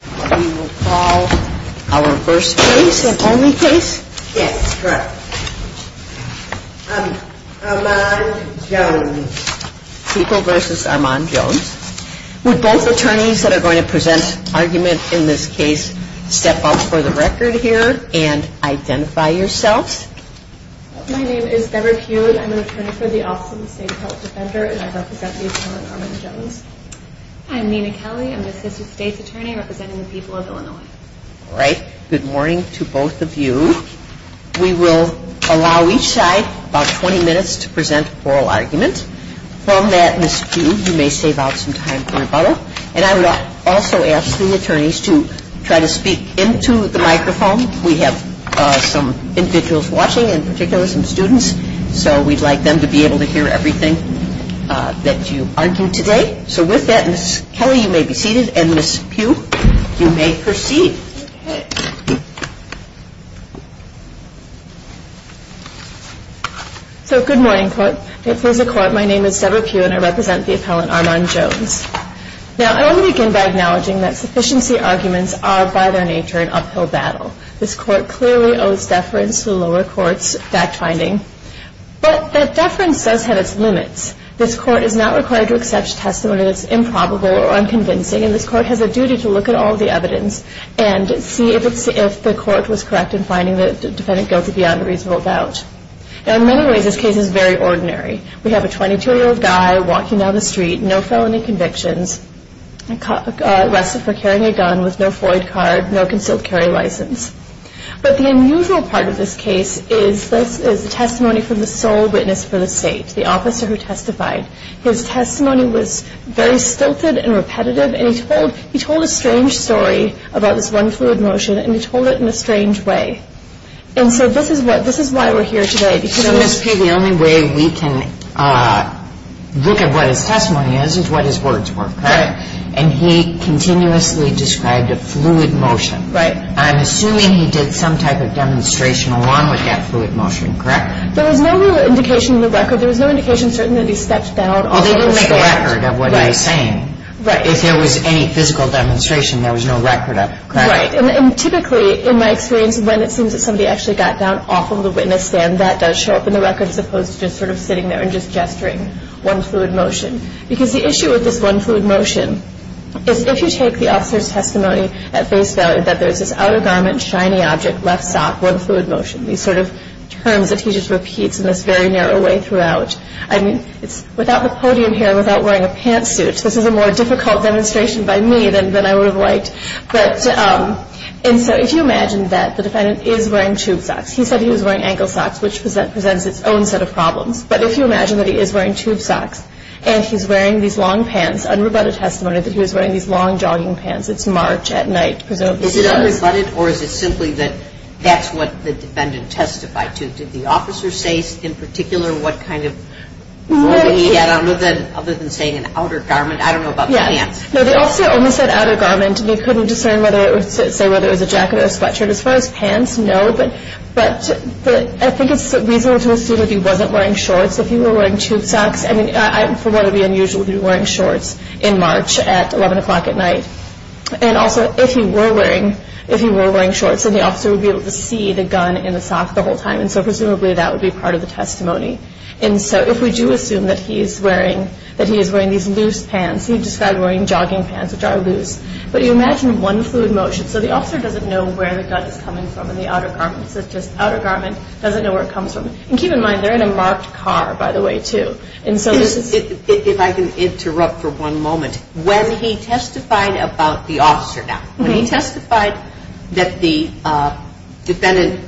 We will call our first case, the only case. Yes, correct. Armand Jones. People v. Armand Jones. Would both attorneys that are going to present argument in this case step up for the record here and identify yourselves? My name is Deborah Kuhn. I'm an attorney for the Office of the State Good morning to both of you. We will allow each side about 20 minutes to present oral argument. From that, Ms. Pugh, you may save out some time for rebuttal. And I would also ask the attorneys to try to speak into the microphone. We have some individuals watching, in particular some students, so we'd like them to be able to hear everything that you argue today. So with that, Ms. Kelly, you may be seated, and Ms. Pugh, you may proceed. So good morning, court. It is a court. My name is Deborah Kuhn, and I represent the appellant Armand Jones. Now, I want to begin by acknowledging that deference does have its limits. This court is not required to accept testimony that is improbable or unconvincing, and this court has a duty to look at all the evidence and see if the court was correct in finding the defendant guilty beyond a reasonable doubt. Now, in many ways, this case is very ordinary. We have a 22-year-old guy walking down the street, no felony convictions, arrested for carrying a gun with no Floyd card, no concealed carry license. But the unusual part of this case is the testimony from the sole witness for the state, the officer who testified. His testimony was very stilted and repetitive, and he told a strange story about this one fluid motion, and he told it in a strange way. And so this is why we're here today. So, Ms. Pugh, the only way we can look at what his testimony is is what his words were, correct? And he continuously described a fluid motion. Right. I'm assuming he did some type of demonstration along with that fluid motion, correct? There was no real indication in the record. There was no indication, certainly, that he stepped down. Well, they didn't make a record of what he was saying. Right. If there was any physical demonstration, there was no record of it, correct? Right. And typically, in my experience, when it seems that somebody actually got down off of the witness stand, that does show up in the record, as opposed to just sort of sitting there and just gesturing one fluid motion. Because the issue with this one fluid motion is if you take the officer's testimony at face value, that there's this outer garment, shiny object, left sock, one fluid motion. These sort of terms that he just repeats in this very narrow way throughout. I mean, without the podium here, without wearing a pantsuit, this is a more difficult demonstration by me than I would have liked. And so if you imagine that the defendant is wearing tube socks. He said he was wearing ankle socks, which presents its own set of problems. But if you imagine that he is wearing tube socks, and he's wearing these long pants, it's March at night, presumably. Is it unrebutted, or is it simply that that's what the defendant testified to? Did the officer say in particular what kind of form he had, other than saying an outer garment? I don't know about the pants. No, the officer only said outer garment. They couldn't discern whether it was a jacket or a sweatshirt. As far as pants, no. But I think it's reasonable to assume that he wasn't wearing shorts. If he were wearing tube socks, I mean, for what would be unusual, he would be wearing shorts in March at 11 o'clock at night. And also, if he were wearing shorts, then the officer would be able to see the gun in the socks the whole time. And so presumably that would be part of the testimony. And so if we do assume that he is wearing these loose pants, he described wearing jogging pants, which are loose. But you imagine one fluid motion. So the officer doesn't know where the gun is coming from in the outer garment. So it's just outer garment, doesn't know where it comes from. And keep in mind, they're in a marked car, by the way, too. If I can interrupt for one moment, when he testified about the officer now, when he testified that the defendant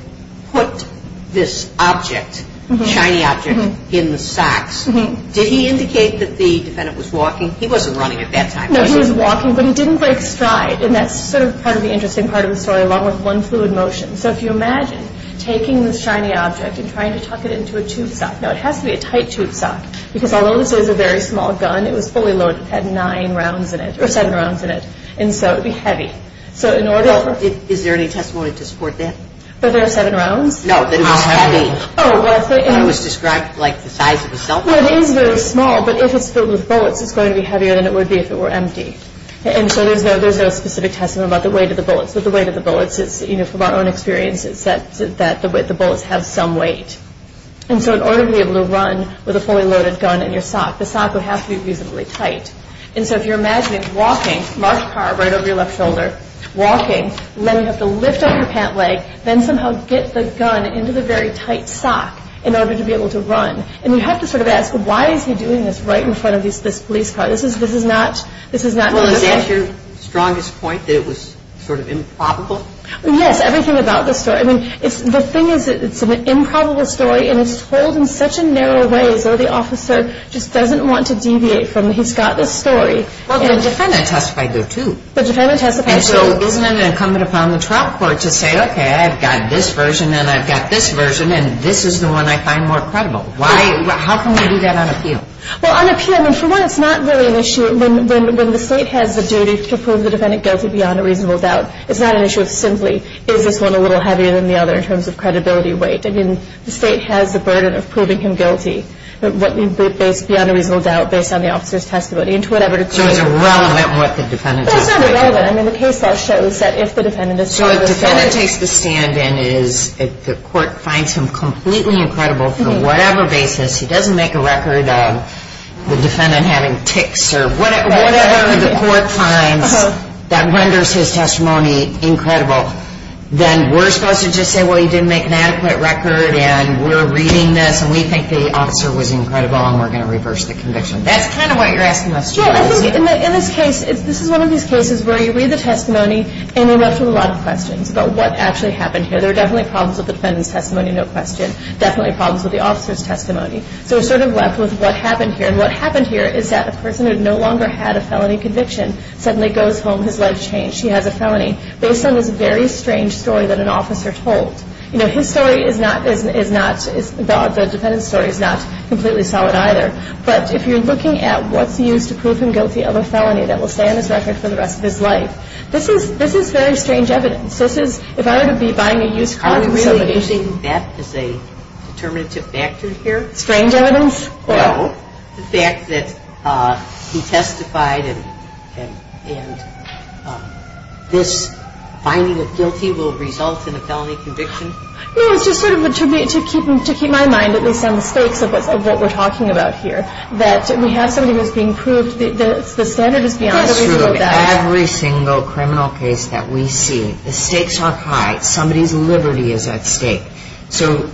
put this object, shiny object, in the socks, did he indicate that the defendant was walking? He wasn't running at that time. No, he was walking, but he didn't break stride. And that's sort of part of the interesting part of the story, along with one fluid motion. So if you imagine taking this shiny object and trying to tuck it into a tube sock. Now, it has to be a tight tube sock, because although this is a very small gun, it was fully loaded. It had nine rounds in it, or seven rounds in it. And so it would be heavy. So in order to... Is there any testimony to support that? That there are seven rounds? No, that it was heavy. How heavy? It was described like the size of a cell phone. Well, it is very small, but if it's filled with bullets, it's going to be heavier than it would be if it were empty. And so there's no specific testimony about the weight of the bullets. But the weight of the bullets is, you know, from our own experience, is that the bullets have some weight. And so in order to be able to run with a fully loaded gun in your sock, the sock would have to be reasonably tight. And so if you're imagining walking, large car right over your left shoulder, walking, then you have to lift up your pant leg, then somehow get the gun into the very tight sock in order to be able to run. And you have to sort of ask, why is he doing this right in front of this police car? This is not... Well, is that your strongest point, that it was sort of improbable? Yes, everything about the story. I mean, the thing is, it's an improbable story, and it's told in such a narrow way, so the officer just doesn't want to deviate from it. He's got this story. Well, the defendant testified, though, too. The defendant testified, too. And so isn't it incumbent upon the trial court to say, okay, I've got this version, and I've got this version, and this is the one I find more credible? How can we do that on appeal? Well, on appeal, I mean, for one, it's not really an issue. When the state has the duty to prove the defendant guilty beyond a reasonable doubt, it's not an issue of simply is this one a little heavier than the other in terms of credibility weight. I mean, the state has the burden of proving him guilty beyond a reasonable doubt based on the officer's testimony. So it's irrelevant what the defendant testified? Well, it's not irrelevant. I mean, the case law shows that if the defendant is charged with a felony... So if the defendant takes the stand and the court finds him completely incredible for whatever basis, he doesn't make a record of the defendant having tics or whatever the court finds that renders his testimony incredible, then we're supposed to just say, well, he didn't make an adequate record, and we're reading this, and we think the officer was incredible, and we're going to reverse the conviction. That's kind of what you're asking us to do, isn't it? Well, I think in this case, this is one of these cases where you read the testimony and you're left with a lot of questions about what actually happened here. There are definitely problems with the defendant's testimony, no question. Definitely problems with the officer's testimony. So we're sort of left with what happened here, and what happened here is that a person who no longer had a felony conviction suddenly goes home. His life changed. He has a felony based on this very strange story that an officer told. You know, his story is not, the defendant's story is not completely solid either, but if you're looking at what's used to prove him guilty of a felony that will stay on this record for the rest of his life, this is very strange evidence. This is, if I were to be buying a used car from somebody... Is there any determinative factor here? Strange evidence? No. The fact that he testified and this finding of guilty will result in a felony conviction? No, it's just sort of to keep my mind at least on the stakes of what we're talking about here, that we have somebody who is being proved. The standard is beyond the reasonable doubt. Every single criminal case that we see, the stakes are high. Somebody's liberty is at stake. So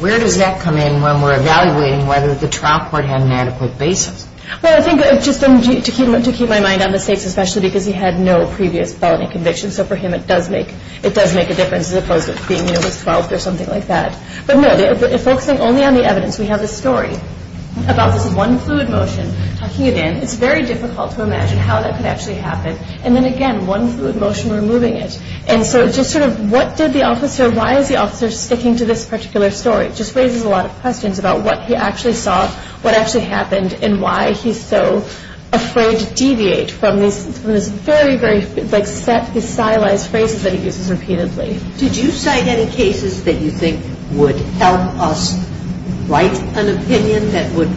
where does that come in when we're evaluating whether the trial court had an adequate basis? Well, I think just to keep my mind on the stakes, especially because he had no previous felony conviction, so for him it does make a difference as opposed to being, you know, he was 12 or something like that. But no, focusing only on the evidence, we have a story about this one fluid motion. Talking again, it's very difficult to imagine how that could actually happen. And then again, one fluid motion removing it. And so just sort of what did the officer, why is the officer sticking to this particular story? It just raises a lot of questions about what he actually saw, what actually happened, and why he's so afraid to deviate from these very, very, like, stylized phrases that he uses repeatedly. Did you cite any cases that you think would help us write an opinion that would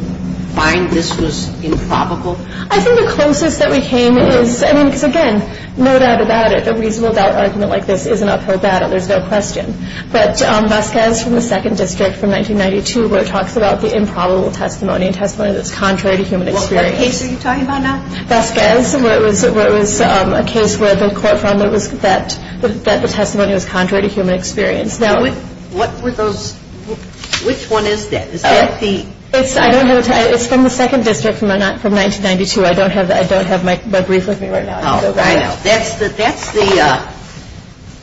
find this was improbable? I think the closest that we came is, I mean, because again, no doubt about it, a reasonable doubt argument like this is an uphill battle. There's no question. But Vasquez from the 2nd District from 1992 where it talks about the improbable testimony, a testimony that's contrary to human experience. What case are you talking about now? Vasquez, where it was a case where the court found that the testimony was contrary to human experience. What were those? Which one is that? It's from the 2nd District from 1992. I don't have my brief with me right now. I know. That's the,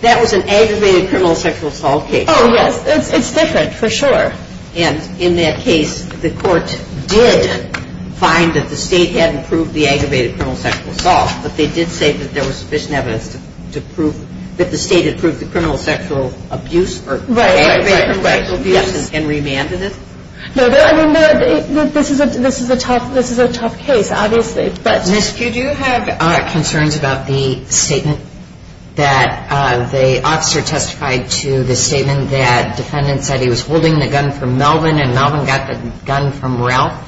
that was an aggravated criminal sexual assault case. Oh, yes. It's different for sure. And in that case, the court did find that the state hadn't proved the aggravated criminal sexual assault, but they did say that there was sufficient evidence to prove that the state had proved the criminal sexual abuse or aggravated sexual abuse and remanded it? No, I mean, this is a tough case, obviously, but. Ms. Pugh, do you have concerns about the statement that the officer testified to, the statement that defendants said he was holding the gun from Melvin and Melvin got the gun from Ralph?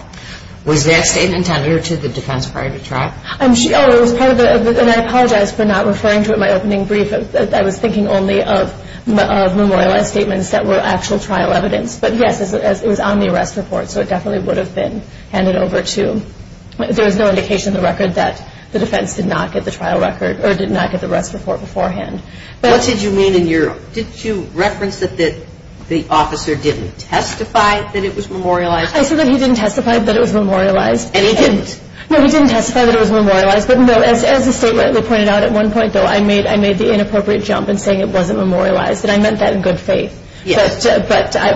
Was that statement tendered to the defense prior to trial? Oh, it was part of the, and I apologize for not referring to it in my opening brief. I was thinking only of memorialized statements that were actual trial evidence. But, yes, it was on the arrest report, so it definitely would have been handed over to, there was no indication in the record that the defense did not get the trial record or did not get the arrest report beforehand. What did you mean in your, did you reference that the officer didn't testify that it was memorialized? I said that he didn't testify that it was memorialized. And he didn't? No, he didn't testify that it was memorialized. But, no, as the statement pointed out at one point, though, I made the inappropriate jump in saying it wasn't memorialized, and I meant that in good faith. Yes.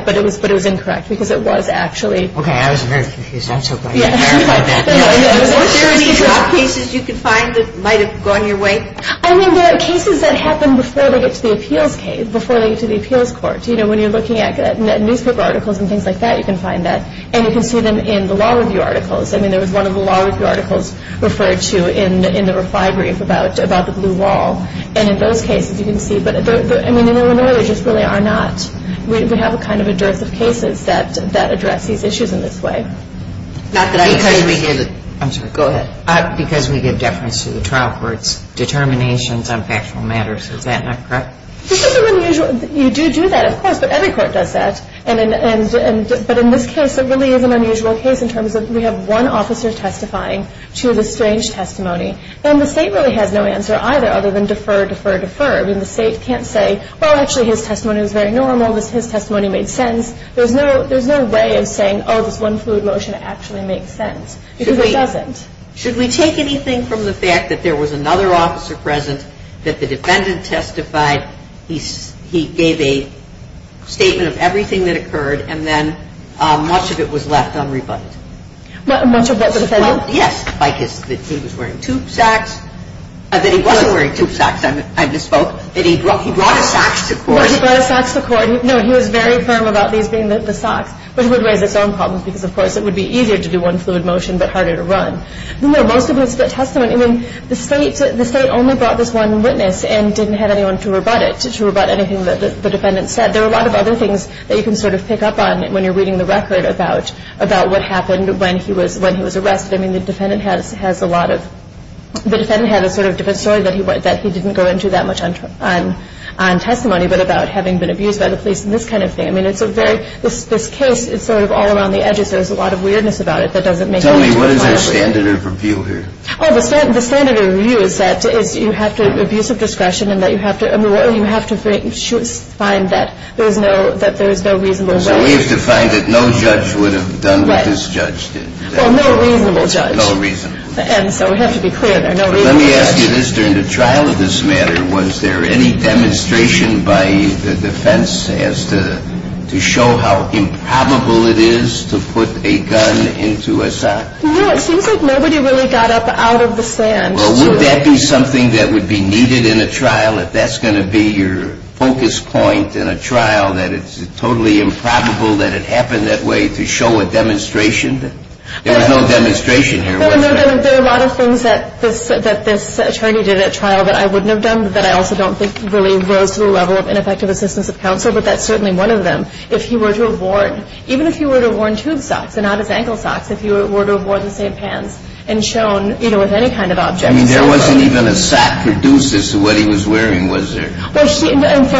But it was incorrect because it was actually. Okay, I was very confused. I'm so glad you clarified that. Weren't there any drug cases you could find that might have gone your way? I mean, there are cases that happen before they get to the appeals case, before they get to the appeals court. You know, when you're looking at newspaper articles and things like that, you can find that. And you can see them in the law review articles. I mean, there was one of the law review articles referred to in the reply brief about the blue wall. And in those cases, you can see. But, I mean, in Illinois, there just really are not. We have a kind of a dearth of cases that address these issues in this way. Because we give deference to the trial court's determinations on factual matters. Is that not correct? This isn't unusual. You do do that, of course. But every court does that. But in this case, it really is an unusual case in terms of we have one officer testifying to the strange testimony. I mean, the state can't say, well, actually, his testimony was very normal. His testimony made sense. There's no way of saying, oh, this one fluid motion actually makes sense. Because it doesn't. Should we take anything from the fact that there was another officer present, that the defendant testified, he gave a statement of everything that occurred, and then much of it was left unrebutted? Much of what the defendant? Yes. Well, I mean, I'm not saying that he was wearing tube socks, that he wasn't wearing tube socks. I misspoke. That he brought his socks to court. No, he brought his socks to court. No, he was very firm about these being the socks. But it would raise its own problems because, of course, it would be easier to do one fluid motion but harder to run. Most of his testimony, I mean, the state only brought this one witness and didn't have anyone to rebut it, to rebut anything that the defendant said. There are a lot of other things that you can sort of pick up on when you're reading the record about what happened when he was arrested. I mean, the defendant has a lot of, the defendant had a sort of different story that he didn't go into that much on testimony but about having been abused by the police and this kind of thing. I mean, it's a very, this case, it's sort of all around the edges. There's a lot of weirdness about it that doesn't make sense. Tell me, what is the standard of review here? Oh, the standard of review is that you have to abuse of discretion and that you have to, I mean, you have to find that there is no reasonable way. So we have to find that no judge would have done what this judge did. Well, no reasonable judge. No reasonable judge. And so we have to be clear there, no reasonable judge. Let me ask you this, during the trial of this matter, was there any demonstration by the defense as to show how improbable it is to put a gun into a sock? No, it seems like nobody really got up out of the sand. Well, would that be something that would be needed in a trial, if that's going to be your focus point in a trial, that it's totally improbable that it happened that way, to show a demonstration? There was no demonstration here, was there? No, there were a lot of things that this attorney did at trial that I wouldn't have done, that I also don't think really rose to the level of ineffective assistance of counsel, but that's certainly one of them. If he were to have worn, even if he were to have worn tube socks and not his ankle socks, if he were to have worn the same pants and shown, you know, with any kind of object. I mean, there wasn't even a sock produced as to what he was wearing, was there? Well,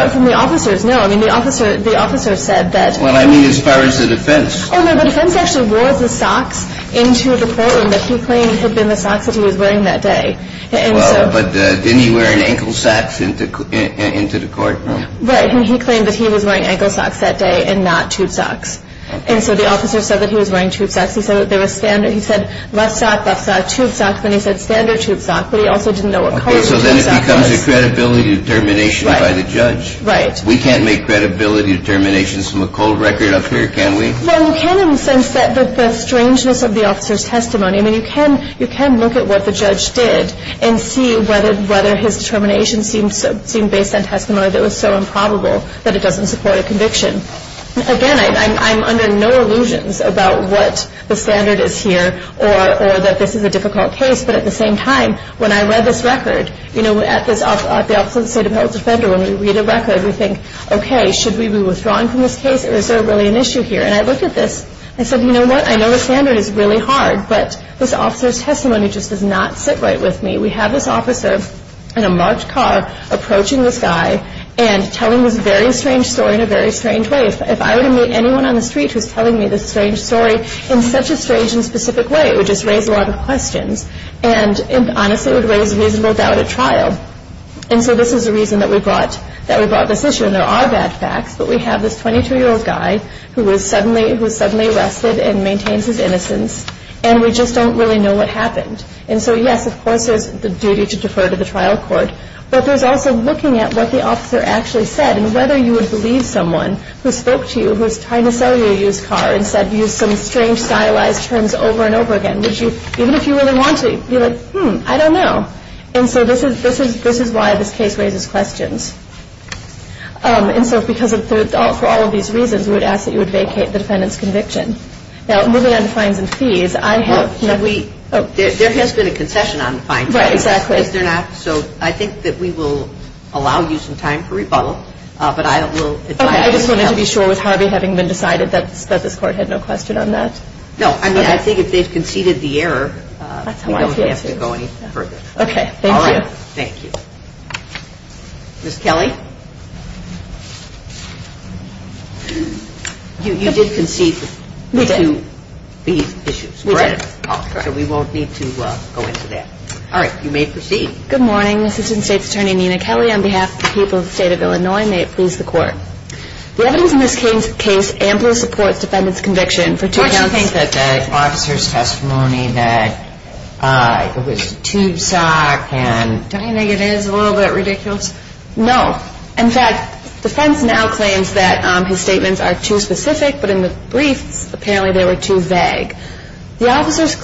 from the officers, no. I mean, the officer said that. Well, I mean, as far as the defense. Oh, no, the defense actually wore the socks into the courtroom that he claimed had been the socks that he was wearing that day. Well, but didn't he wear ankle socks into the courtroom? Right, and he claimed that he was wearing ankle socks that day and not tube socks. And so the officer said that he was wearing tube socks. He said that they were standard. He said left sock, left sock, tube sock. Then he said standard tube sock, but he also didn't know what color the tube sock was. Okay, so then it becomes a credibility determination by the judge. Right. We can't make credibility determinations from a cold record up here, can we? Well, you can in the sense that the strangeness of the officer's testimony. I mean, you can look at what the judge did and see whether his determination Again, I'm under no illusions about what the standard is here or that this is a difficult case, but at the same time, when I read this record, you know, at the Office of the State Appellate Defender, when we read a record, we think, okay, should we be withdrawing from this case or is there really an issue here? And I looked at this and said, you know what, I know the standard is really hard, but this officer's testimony just does not sit right with me. We have this officer in a March car approaching this guy and telling this very strange story in a very strange way. If I were to meet anyone on the street who's telling me this strange story in such a strange and specific way, it would just raise a lot of questions and, honestly, it would raise a reasonable doubt at trial. And so this is the reason that we brought this issue, and there are bad facts, but we have this 22-year-old guy who was suddenly arrested and maintains his innocence, and we just don't really know what happened. And so, yes, of course, there's the duty to defer to the trial court, but there's also looking at what the officer actually said and whether you would believe someone who spoke to you who was trying to sell you a used car and said you used some strange stylized terms over and over again. Even if you really want to, you're like, hmm, I don't know. And so this is why this case raises questions. And so because of all of these reasons, we would ask that you would vacate the defendant's conviction. Now, moving on to fines and fees, I have... There has been a concession on the fines and fees. Right, exactly. Yes, there have. So I think that we will allow you some time for rebuttal, but I will advise... Okay, I just wanted to be sure, with Harvey having been decided, that this Court had no question on that? No, I mean, I think if they've conceded the error, we don't have to go any further. Okay, thank you. All right, thank you. Ms. Kelly? You did concede... We did. ...to these issues, correct? We did, correct. So we won't need to go into that. All right, you may proceed. Good morning. Assistant State's Attorney Nina Kelly, on behalf of the people of the State of Illinois, may it please the Court. The evidence in this case amply supports the defendant's conviction for two counts... Why do you think that the officer's testimony that it was a tube sock and... Don't you think it is a little bit ridiculous? No. In fact, defense now claims that his statements are too specific, but in the briefs, apparently they were too vague. The officers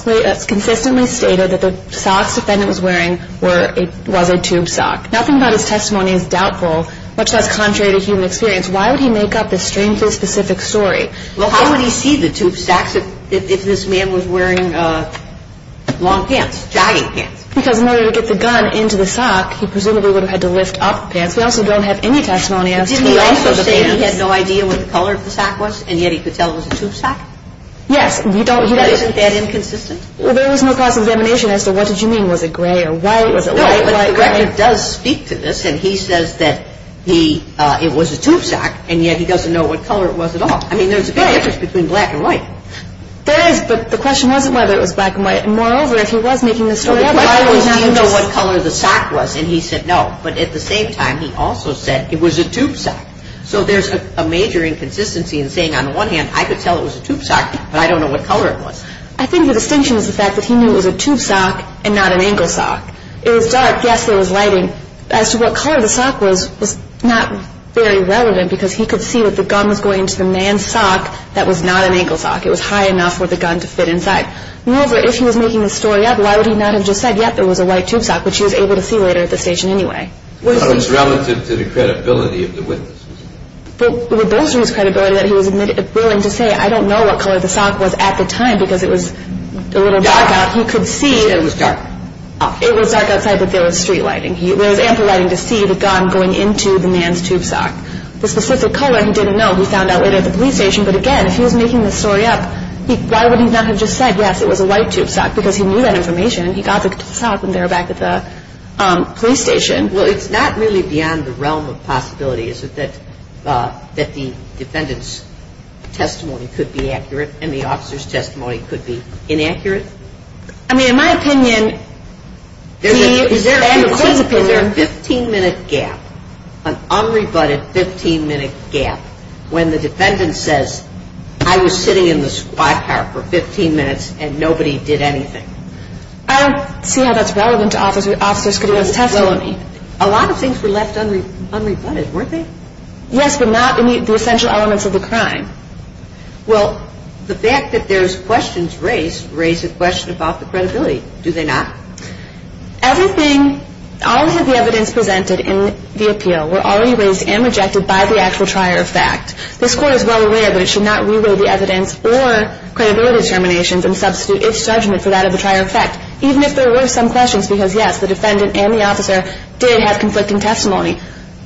consistently stated that the socks the defendant was wearing was a tube sock. Nothing about his testimony is doubtful, much less contrary to human experience. Why would he make up this strangely specific story? Well, how would he see the tube socks if this man was wearing long pants, jogging pants? Because in order to get the gun into the sock, he presumably would have had to lift up the pants. We also don't have any testimony as to the length of the pants. Did he also say that he had no idea what the color of the sock was, and yet he could tell it was a tube sock? Yes. Isn't that inconsistent? Well, there was no cross-examination as to what did you mean. Was it gray or white? No, but the record does speak to this, and he says that it was a tube sock, and yet he doesn't know what color it was at all. I mean, there's a big difference between black and white. There is, but the question wasn't whether it was black and white. Moreover, if he was making this story up... Why would he know what color the sock was? And he said no. But at the same time, he also said it was a tube sock. So there's a major inconsistency in saying, on the one hand, I could tell it was a tube sock, but I don't know what color it was. I think the distinction is the fact that he knew it was a tube sock and not an ankle sock. It was dark. Yes, there was lighting. As to what color the sock was, was not very relevant, because he could see that the gun was going into the man's sock that was not an ankle sock. It was high enough for the gun to fit inside. Moreover, if he was making this story up, why would he not have just said, yes, there was a white tube sock, which he was able to see later at the station anyway? But it was relative to the credibility of the witnesses. Well, it was those whose credibility that he was willing to say, I don't know what color the sock was at the time, because it was a little dark out. He could see... It was dark. It was dark outside, but there was street lighting. There was ample lighting to see the gun going into the man's tube sock. The specific color, he didn't know. He found out later at the police station. But again, if he was making this story up, why would he not have just said, yes, it was a white tube sock, because he knew that information. And he got the sock when they were back at the police station. Well, it's not really beyond the realm of possibility, is it, that the defendant's testimony could be accurate and the officer's testimony could be inaccurate? I mean, in my opinion... Is there a 15-minute gap, an unrebutted 15-minute gap, when the defendant says, I was sitting in the squat car for 15 minutes and nobody did anything? I don't see how that's relevant to Officer Scudero's testimony. A lot of things were left unrebutted, weren't they? Yes, but not the essential elements of the crime. Well, the fact that there's questions raised, raises a question about the credibility, do they not? Everything, all of the evidence presented in the appeal were already raised and rejected by the actual trier of fact. This Court is well aware that it should not reweigh the evidence or credibility determinations and substitute its judgment for that of the trier of fact, even if there were some questions, because, yes, the defendant and the officer did have conflicting testimony.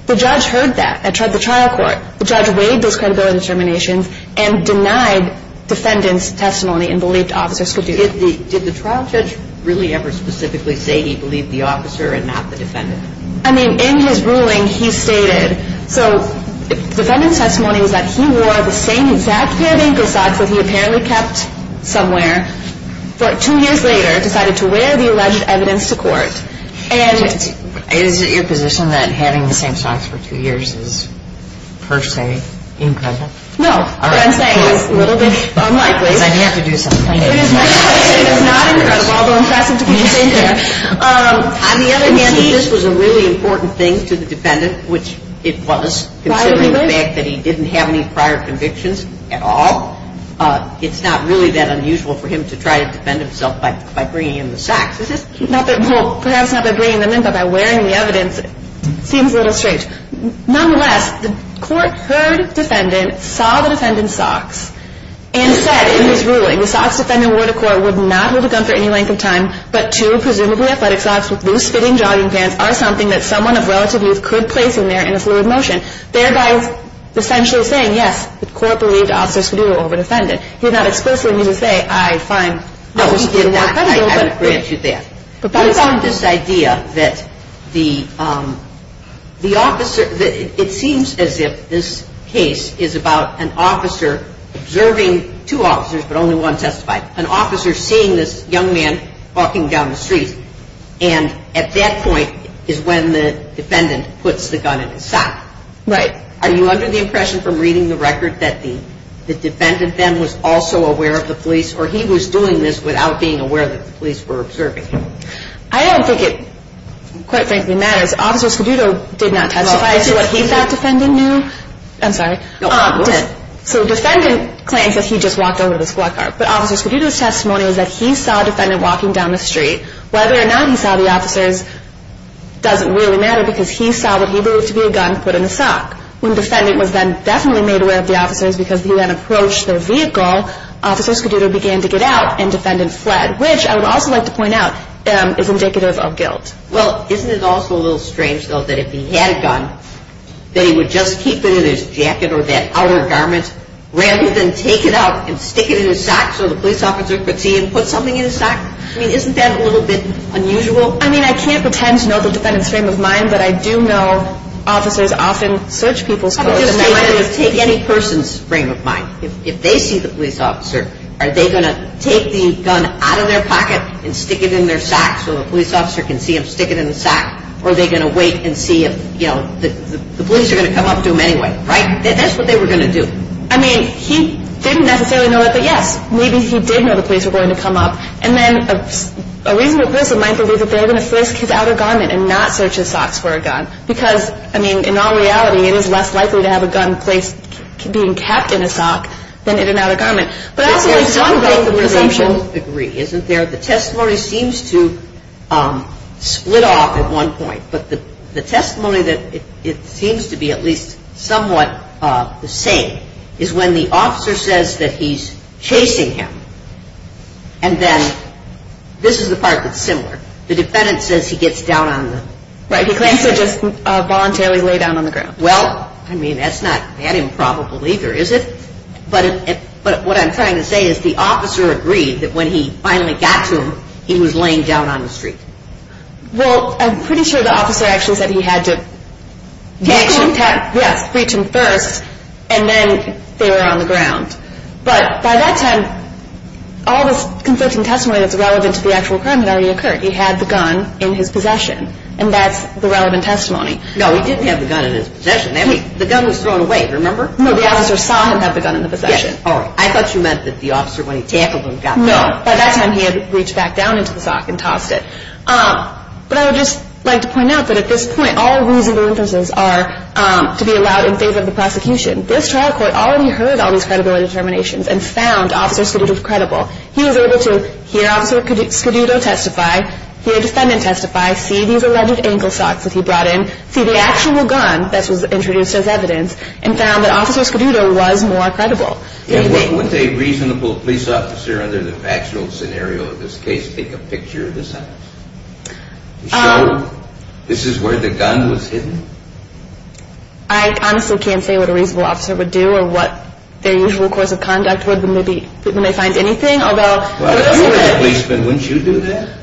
The judge heard that at the trial court. The judge weighed those credibility determinations and denied defendant's testimony and believed Officer Scudero. Did the trial judge really ever specifically say he believed the officer and not the defendant? I mean, in his ruling, he stated, so defendant's testimony was that he wore the same exact pair of ankle socks that he apparently kept somewhere, but two years later decided to wear the alleged evidence to court. And... Is it your position that having the same socks for two years is, per se, impressive? No, what I'm saying is a little bit unlikely. Then you have to do something. It is not impressive, although impressive to continue. On the other hand, he... He said this was a really important thing to the defendant, which it was, considering the fact that he didn't have any prior convictions at all. It's not really that unusual for him to try to defend himself by bringing in the socks. Is this... Well, perhaps not by bringing them in, but by wearing the evidence. It seems a little strange. Nonetheless, the court heard defendant, saw the defendant's socks, and said in his ruling, the socks defendant wore to court would not hold a gun for any length of time, but two presumably athletic socks with loose-fitting jogging pants are something that someone of relative youth could place in there in a fluid motion, thereby essentially saying, yes, the court believed Officer Scudero over defendant. He did not explicitly mean to say, I find... No, he did not. I haven't granted you that. I found this idea that the officer... It seems as if this case is about an officer observing two officers, but only one testified. An officer seeing this young man walking down the street, and at that point is when the defendant puts the gun in his sock. Right. Are you under the impression from reading the record that the defendant then was also aware of the police, or he was doing this without being aware that the police were observing him? I don't think it quite frankly matters. Officer Scudero did not testify to what he thought defendant knew. I'm sorry. No, go ahead. So defendant claims that he just walked over to this black car. But Officer Scudero's testimony was that he saw a defendant walking down the street. Whether or not he saw the officers doesn't really matter, because he saw what he believed to be a gun put in his sock. When defendant was then definitely made aware of the officers because he then approached their vehicle, Officer Scudero began to get out, and defendant fled, which I would also like to point out is indicative of guilt. Well, isn't it also a little strange, though, that if he had a gun that he would just keep it in his jacket or that outer garment rather than take it out and stick it in his sock so the police officer could see and put something in his sock? I mean, isn't that a little bit unusual? I mean, I can't pretend to know the defendant's frame of mind, but I do know officers often search people's clothes. I would just say that it would take any person's frame of mind. If they see the police officer, are they going to take the gun out of their pocket and stick it in their sock so the police officer can see him stick it in his sock, or are they going to wait and see if, you know, the police are going to come up to him anyway, right? That's what they were going to do. I mean, he didn't necessarily know that, but, yes, maybe he did know the police were going to come up. And then a reasonable person might believe that they're going to flisk his outer garment and not search his socks for a gun because, I mean, in all reality, it is less likely to have a gun placed, being kept in a sock than in an outer garment. But that's the presumption. I don't agree, isn't there? The testimony seems to split off at one point, but the testimony that it seems to be at least somewhat the same is when the officer says that he's chasing him and then this is the part that's similar. The defendant says he gets down on the street. Right, he claims to just voluntarily lay down on the ground. Well, I mean, that's not that improbable either, is it? But what I'm trying to say is the officer agreed that when he finally got to him, he was laying down on the street. Well, I'm pretty sure the officer actually said he had to reach him first and then they were on the ground. But by that time, all this conflicting testimony that's relevant to the actual crime had already occurred. He had the gun in his possession, and that's the relevant testimony. No, he didn't have the gun in his possession. The gun was thrown away, remember? No, the officer saw him have the gun in the possession. Yes, all right. I thought you meant that the officer, when he tackled him, got the gun. No, by that time he had reached back down into the sock and tossed it. But I would just like to point out that at this point, all reasonable inferences are to be allowed in favor of the prosecution. This trial court already heard all these credibility determinations and found Officer Scaduto credible. He was able to hear Officer Scaduto testify, hear a defendant testify, see these alleged ankle socks that he brought in, see the actual gun that was introduced as evidence, and found that Officer Scaduto was more credible. Would a reasonable police officer under the factual scenario of this case take a picture of this evidence to show this is where the gun was hidden? I honestly can't say what a reasonable officer would do or what their usual course of conduct would be when they find anything. Well, if you were a policeman, wouldn't you do that?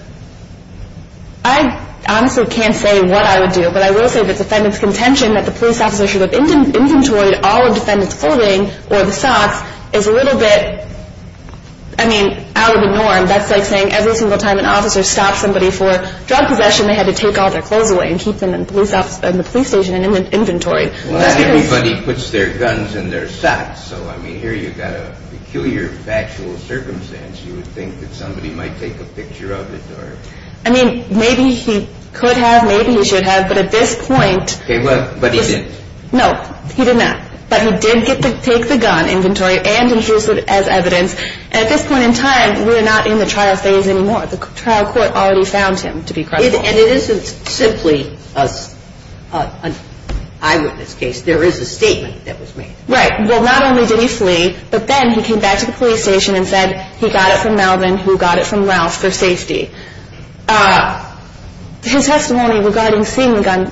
I honestly can't say what I would do, but I will say that the defendant's contention that the police officer should have inventoried all of the defendant's clothing or the socks is a little bit out of the norm. That's like saying every single time an officer stops somebody for drug possession, they had to take all their clothes away and keep them in the police station in inventory. Not everybody puts their guns in their socks, so here you've got a peculiar factual circumstance. You would think that somebody might take a picture of it. I mean, maybe he could have, maybe he should have, but at this point... But he didn't. No, he did not. But he did take the gun in inventory and introduce it as evidence. At this point in time, we're not in the trial phase anymore. The trial court already found him to be credible. And it isn't simply an eyewitness case. There is a statement that was made. Right. Well, not only did he flee, but then he came back to the police station and said he got it from Melvin who got it from Ralph for safety. His testimony regarding seeing the gun,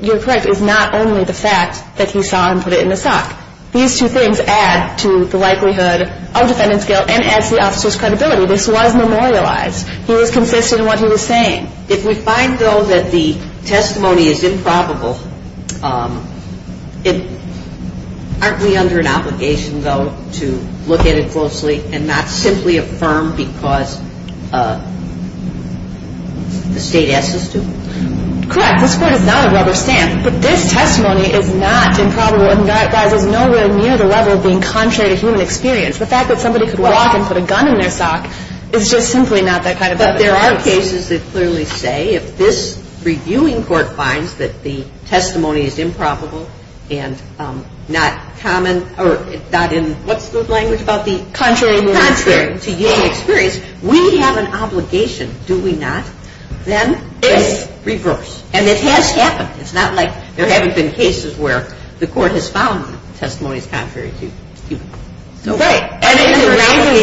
you're correct, is not only the fact that he saw him put it in the sock. These two things add to the likelihood of defendant's guilt and adds to the officer's credibility. This was memorialized. He was consistent in what he was saying. If we find, though, that the testimony is improbable, aren't we under an obligation, though, to look at it closely and not simply affirm because the state asks us to? Correct. This court is not a rubber stamp. But this testimony is not improbable and that is nowhere near the level of being contrary to human experience. The fact that somebody could walk and put a gun in their sock is just simply not that kind of evidence. But there are cases that clearly say if this reviewing court finds that the testimony is improbable and not common or not in what's the language about the? Contrary. Contrary to human experience, we have an obligation, do we not, then to reverse. And it has happened. It's not like there haven't been cases where the court has found the testimony is contrary to human experience. Right. And if it raises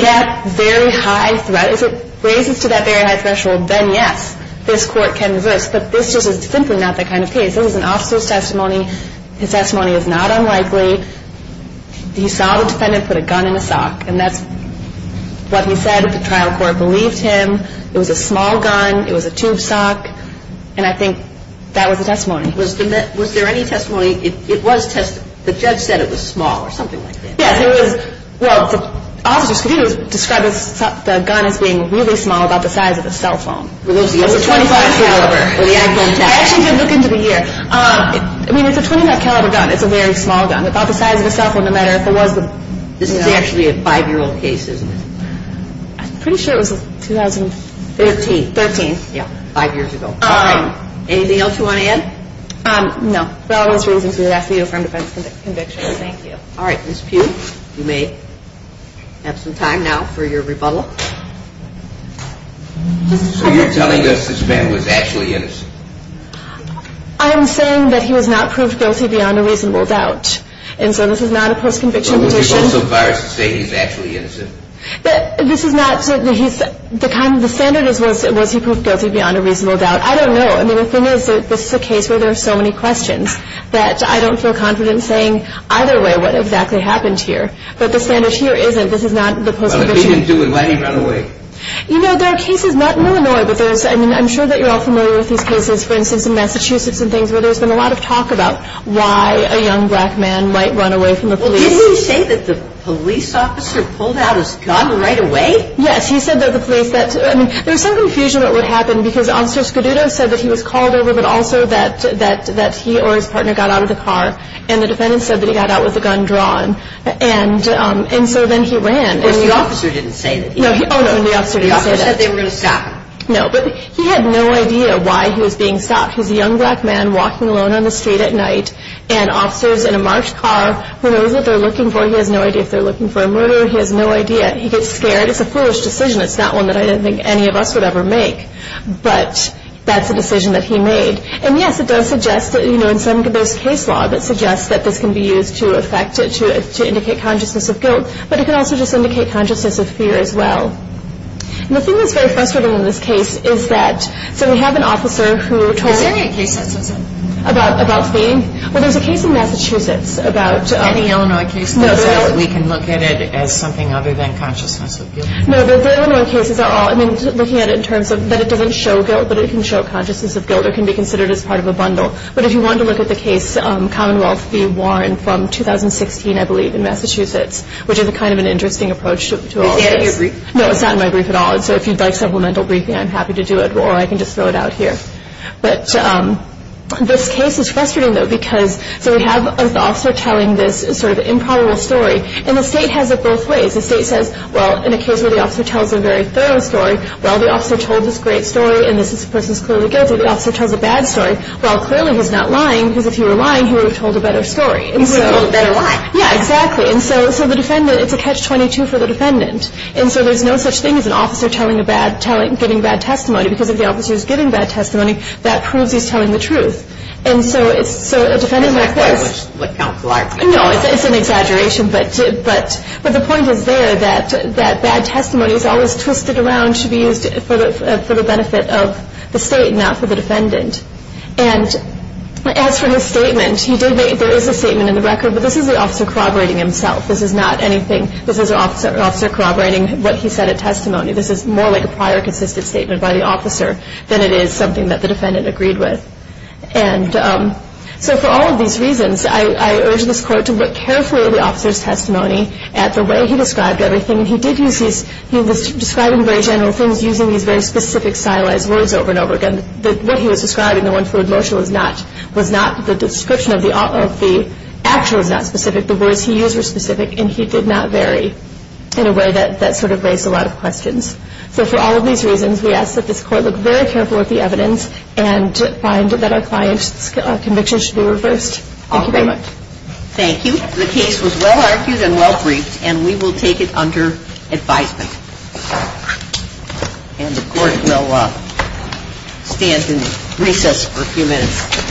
to that very high threshold, then yes, this court can reverse. But this is simply not that kind of case. It was an officer's testimony. His testimony is not unlikely. He saw the defendant put a gun in a sock and that's what he said if the trial court believed him. It was a small gun. It was a tube sock. And I think that was the testimony. Was there any testimony? The judge said it was small or something like that. Yes, it was. Well, the officers could describe the gun as being really small, about the size of a cell phone. It's a .25 caliber. I actually did look into the year. I mean, it's a .25 caliber gun. It's a very small gun, about the size of a cell phone, no matter if it was. This is actually a 5-year-old case, isn't it? I'm pretty sure it was 2013. Five years ago. Anything else you want to add? No. For all those reasons, we ask that you affirm defense conviction. Thank you. All right. Ms. Pugh, you may have some time now for your rebuttal. So you're telling us this man was actually innocent? I am saying that he was not proved guilty beyond a reasonable doubt. And so this is not a post-conviction position. But would you go so far as to say he's actually innocent? The standard is, was he proved guilty beyond a reasonable doubt? I don't know. I mean, the thing is that this is a case where there are so many questions that I don't feel confident saying either way what exactly happened here. But the standard here isn't. This is not the post-conviction. Well, if he didn't do it, why did he run away? You know, there are cases not in Illinois, but there's, I mean, I'm sure that you're all familiar with these cases, for instance, in Massachusetts and things, where there's been a lot of talk about why a young black man might run away from the police. Well, didn't he say that the police officer pulled out his gun right away? Yes. He said that the police, that, I mean, there's some confusion about what happened because Officer Scuduto said that he was called over, but also that he or his partner got out of the car, and the defendant said that he got out with the gun drawn. And so then he ran. But the officer didn't say that he ran. Oh, no, the officer didn't say that. The officer said they were going to stop him. No, but he had no idea why he was being stopped. He's a young black man walking alone on the street at night, and the officer's in a marched car, who knows what they're looking for. He has no idea if they're looking for a murderer. He has no idea. He gets scared. It's a foolish decision. It's not one that I didn't think any of us would ever make. But that's a decision that he made. And, yes, it does suggest that, you know, there's case law that suggests that this can be used to affect it, to indicate consciousness of guilt, but it can also just indicate consciousness of fear as well. And the thing that's very frustrating in this case is that, so we have an officer who told us. Is there any case that says that? About what? Well, there's a case in Massachusetts about. Any Illinois case that says that we can look at it as something other than consciousness of guilt? No, the Illinois cases are all, I mean, looking at it in terms of that it doesn't show guilt, but it can show consciousness of guilt. It can be considered as part of a bundle. But if you wanted to look at the case, Commonwealth v. Warren from 2016, I believe, in Massachusetts, which is kind of an interesting approach to all of this. Is that in your brief? No, it's not in my brief at all. And so if you'd like supplemental briefing, I'm happy to do it, or I can just throw it out here. But this case is frustrating, though, because, so we have an officer telling this sort of improbable story. And the state has it both ways. The state says, well, in a case where the officer tells a very thorough story, well, the officer told this great story, and this person is clearly guilty. The officer tells a bad story. Well, clearly he's not lying, because if he were lying, he would have told a better story. He would have told a better lie. Yeah, exactly. And so the defendant, it's a catch-22 for the defendant. And so there's no such thing as an officer telling a bad, giving bad testimony, because if the officer is giving bad testimony, that proves he's telling the truth. And so a defendant like this. Isn't that quite like Count Clark? No, it's an exaggeration, but the point is there that bad testimony is always twisted around to be used for the benefit of the state, not for the defendant. And as for his statement, there is a statement in the record, but this is the officer corroborating himself. This is not anything. This is an officer corroborating what he said at testimony. This is more like a prior consistent statement by the officer than it is something that the defendant agreed with. And so for all of these reasons, I urge this Court to look carefully at the officer's testimony, at the way he described everything. He did use his, he was describing very general things, using these very specific stylized words over and over again. What he was describing, the one fluid motion was not, was not the description of the actual is not specific. The words he used were specific, and he did not vary in a way that sort of raised a lot of questions. So for all of these reasons, we ask that this Court look very carefully at the evidence and find that our client's conviction should be reversed. Thank you very much. Thank you. The case was well-argued and well-briefed, and we will take it under advisement. And the Court will stand in recess for a few minutes.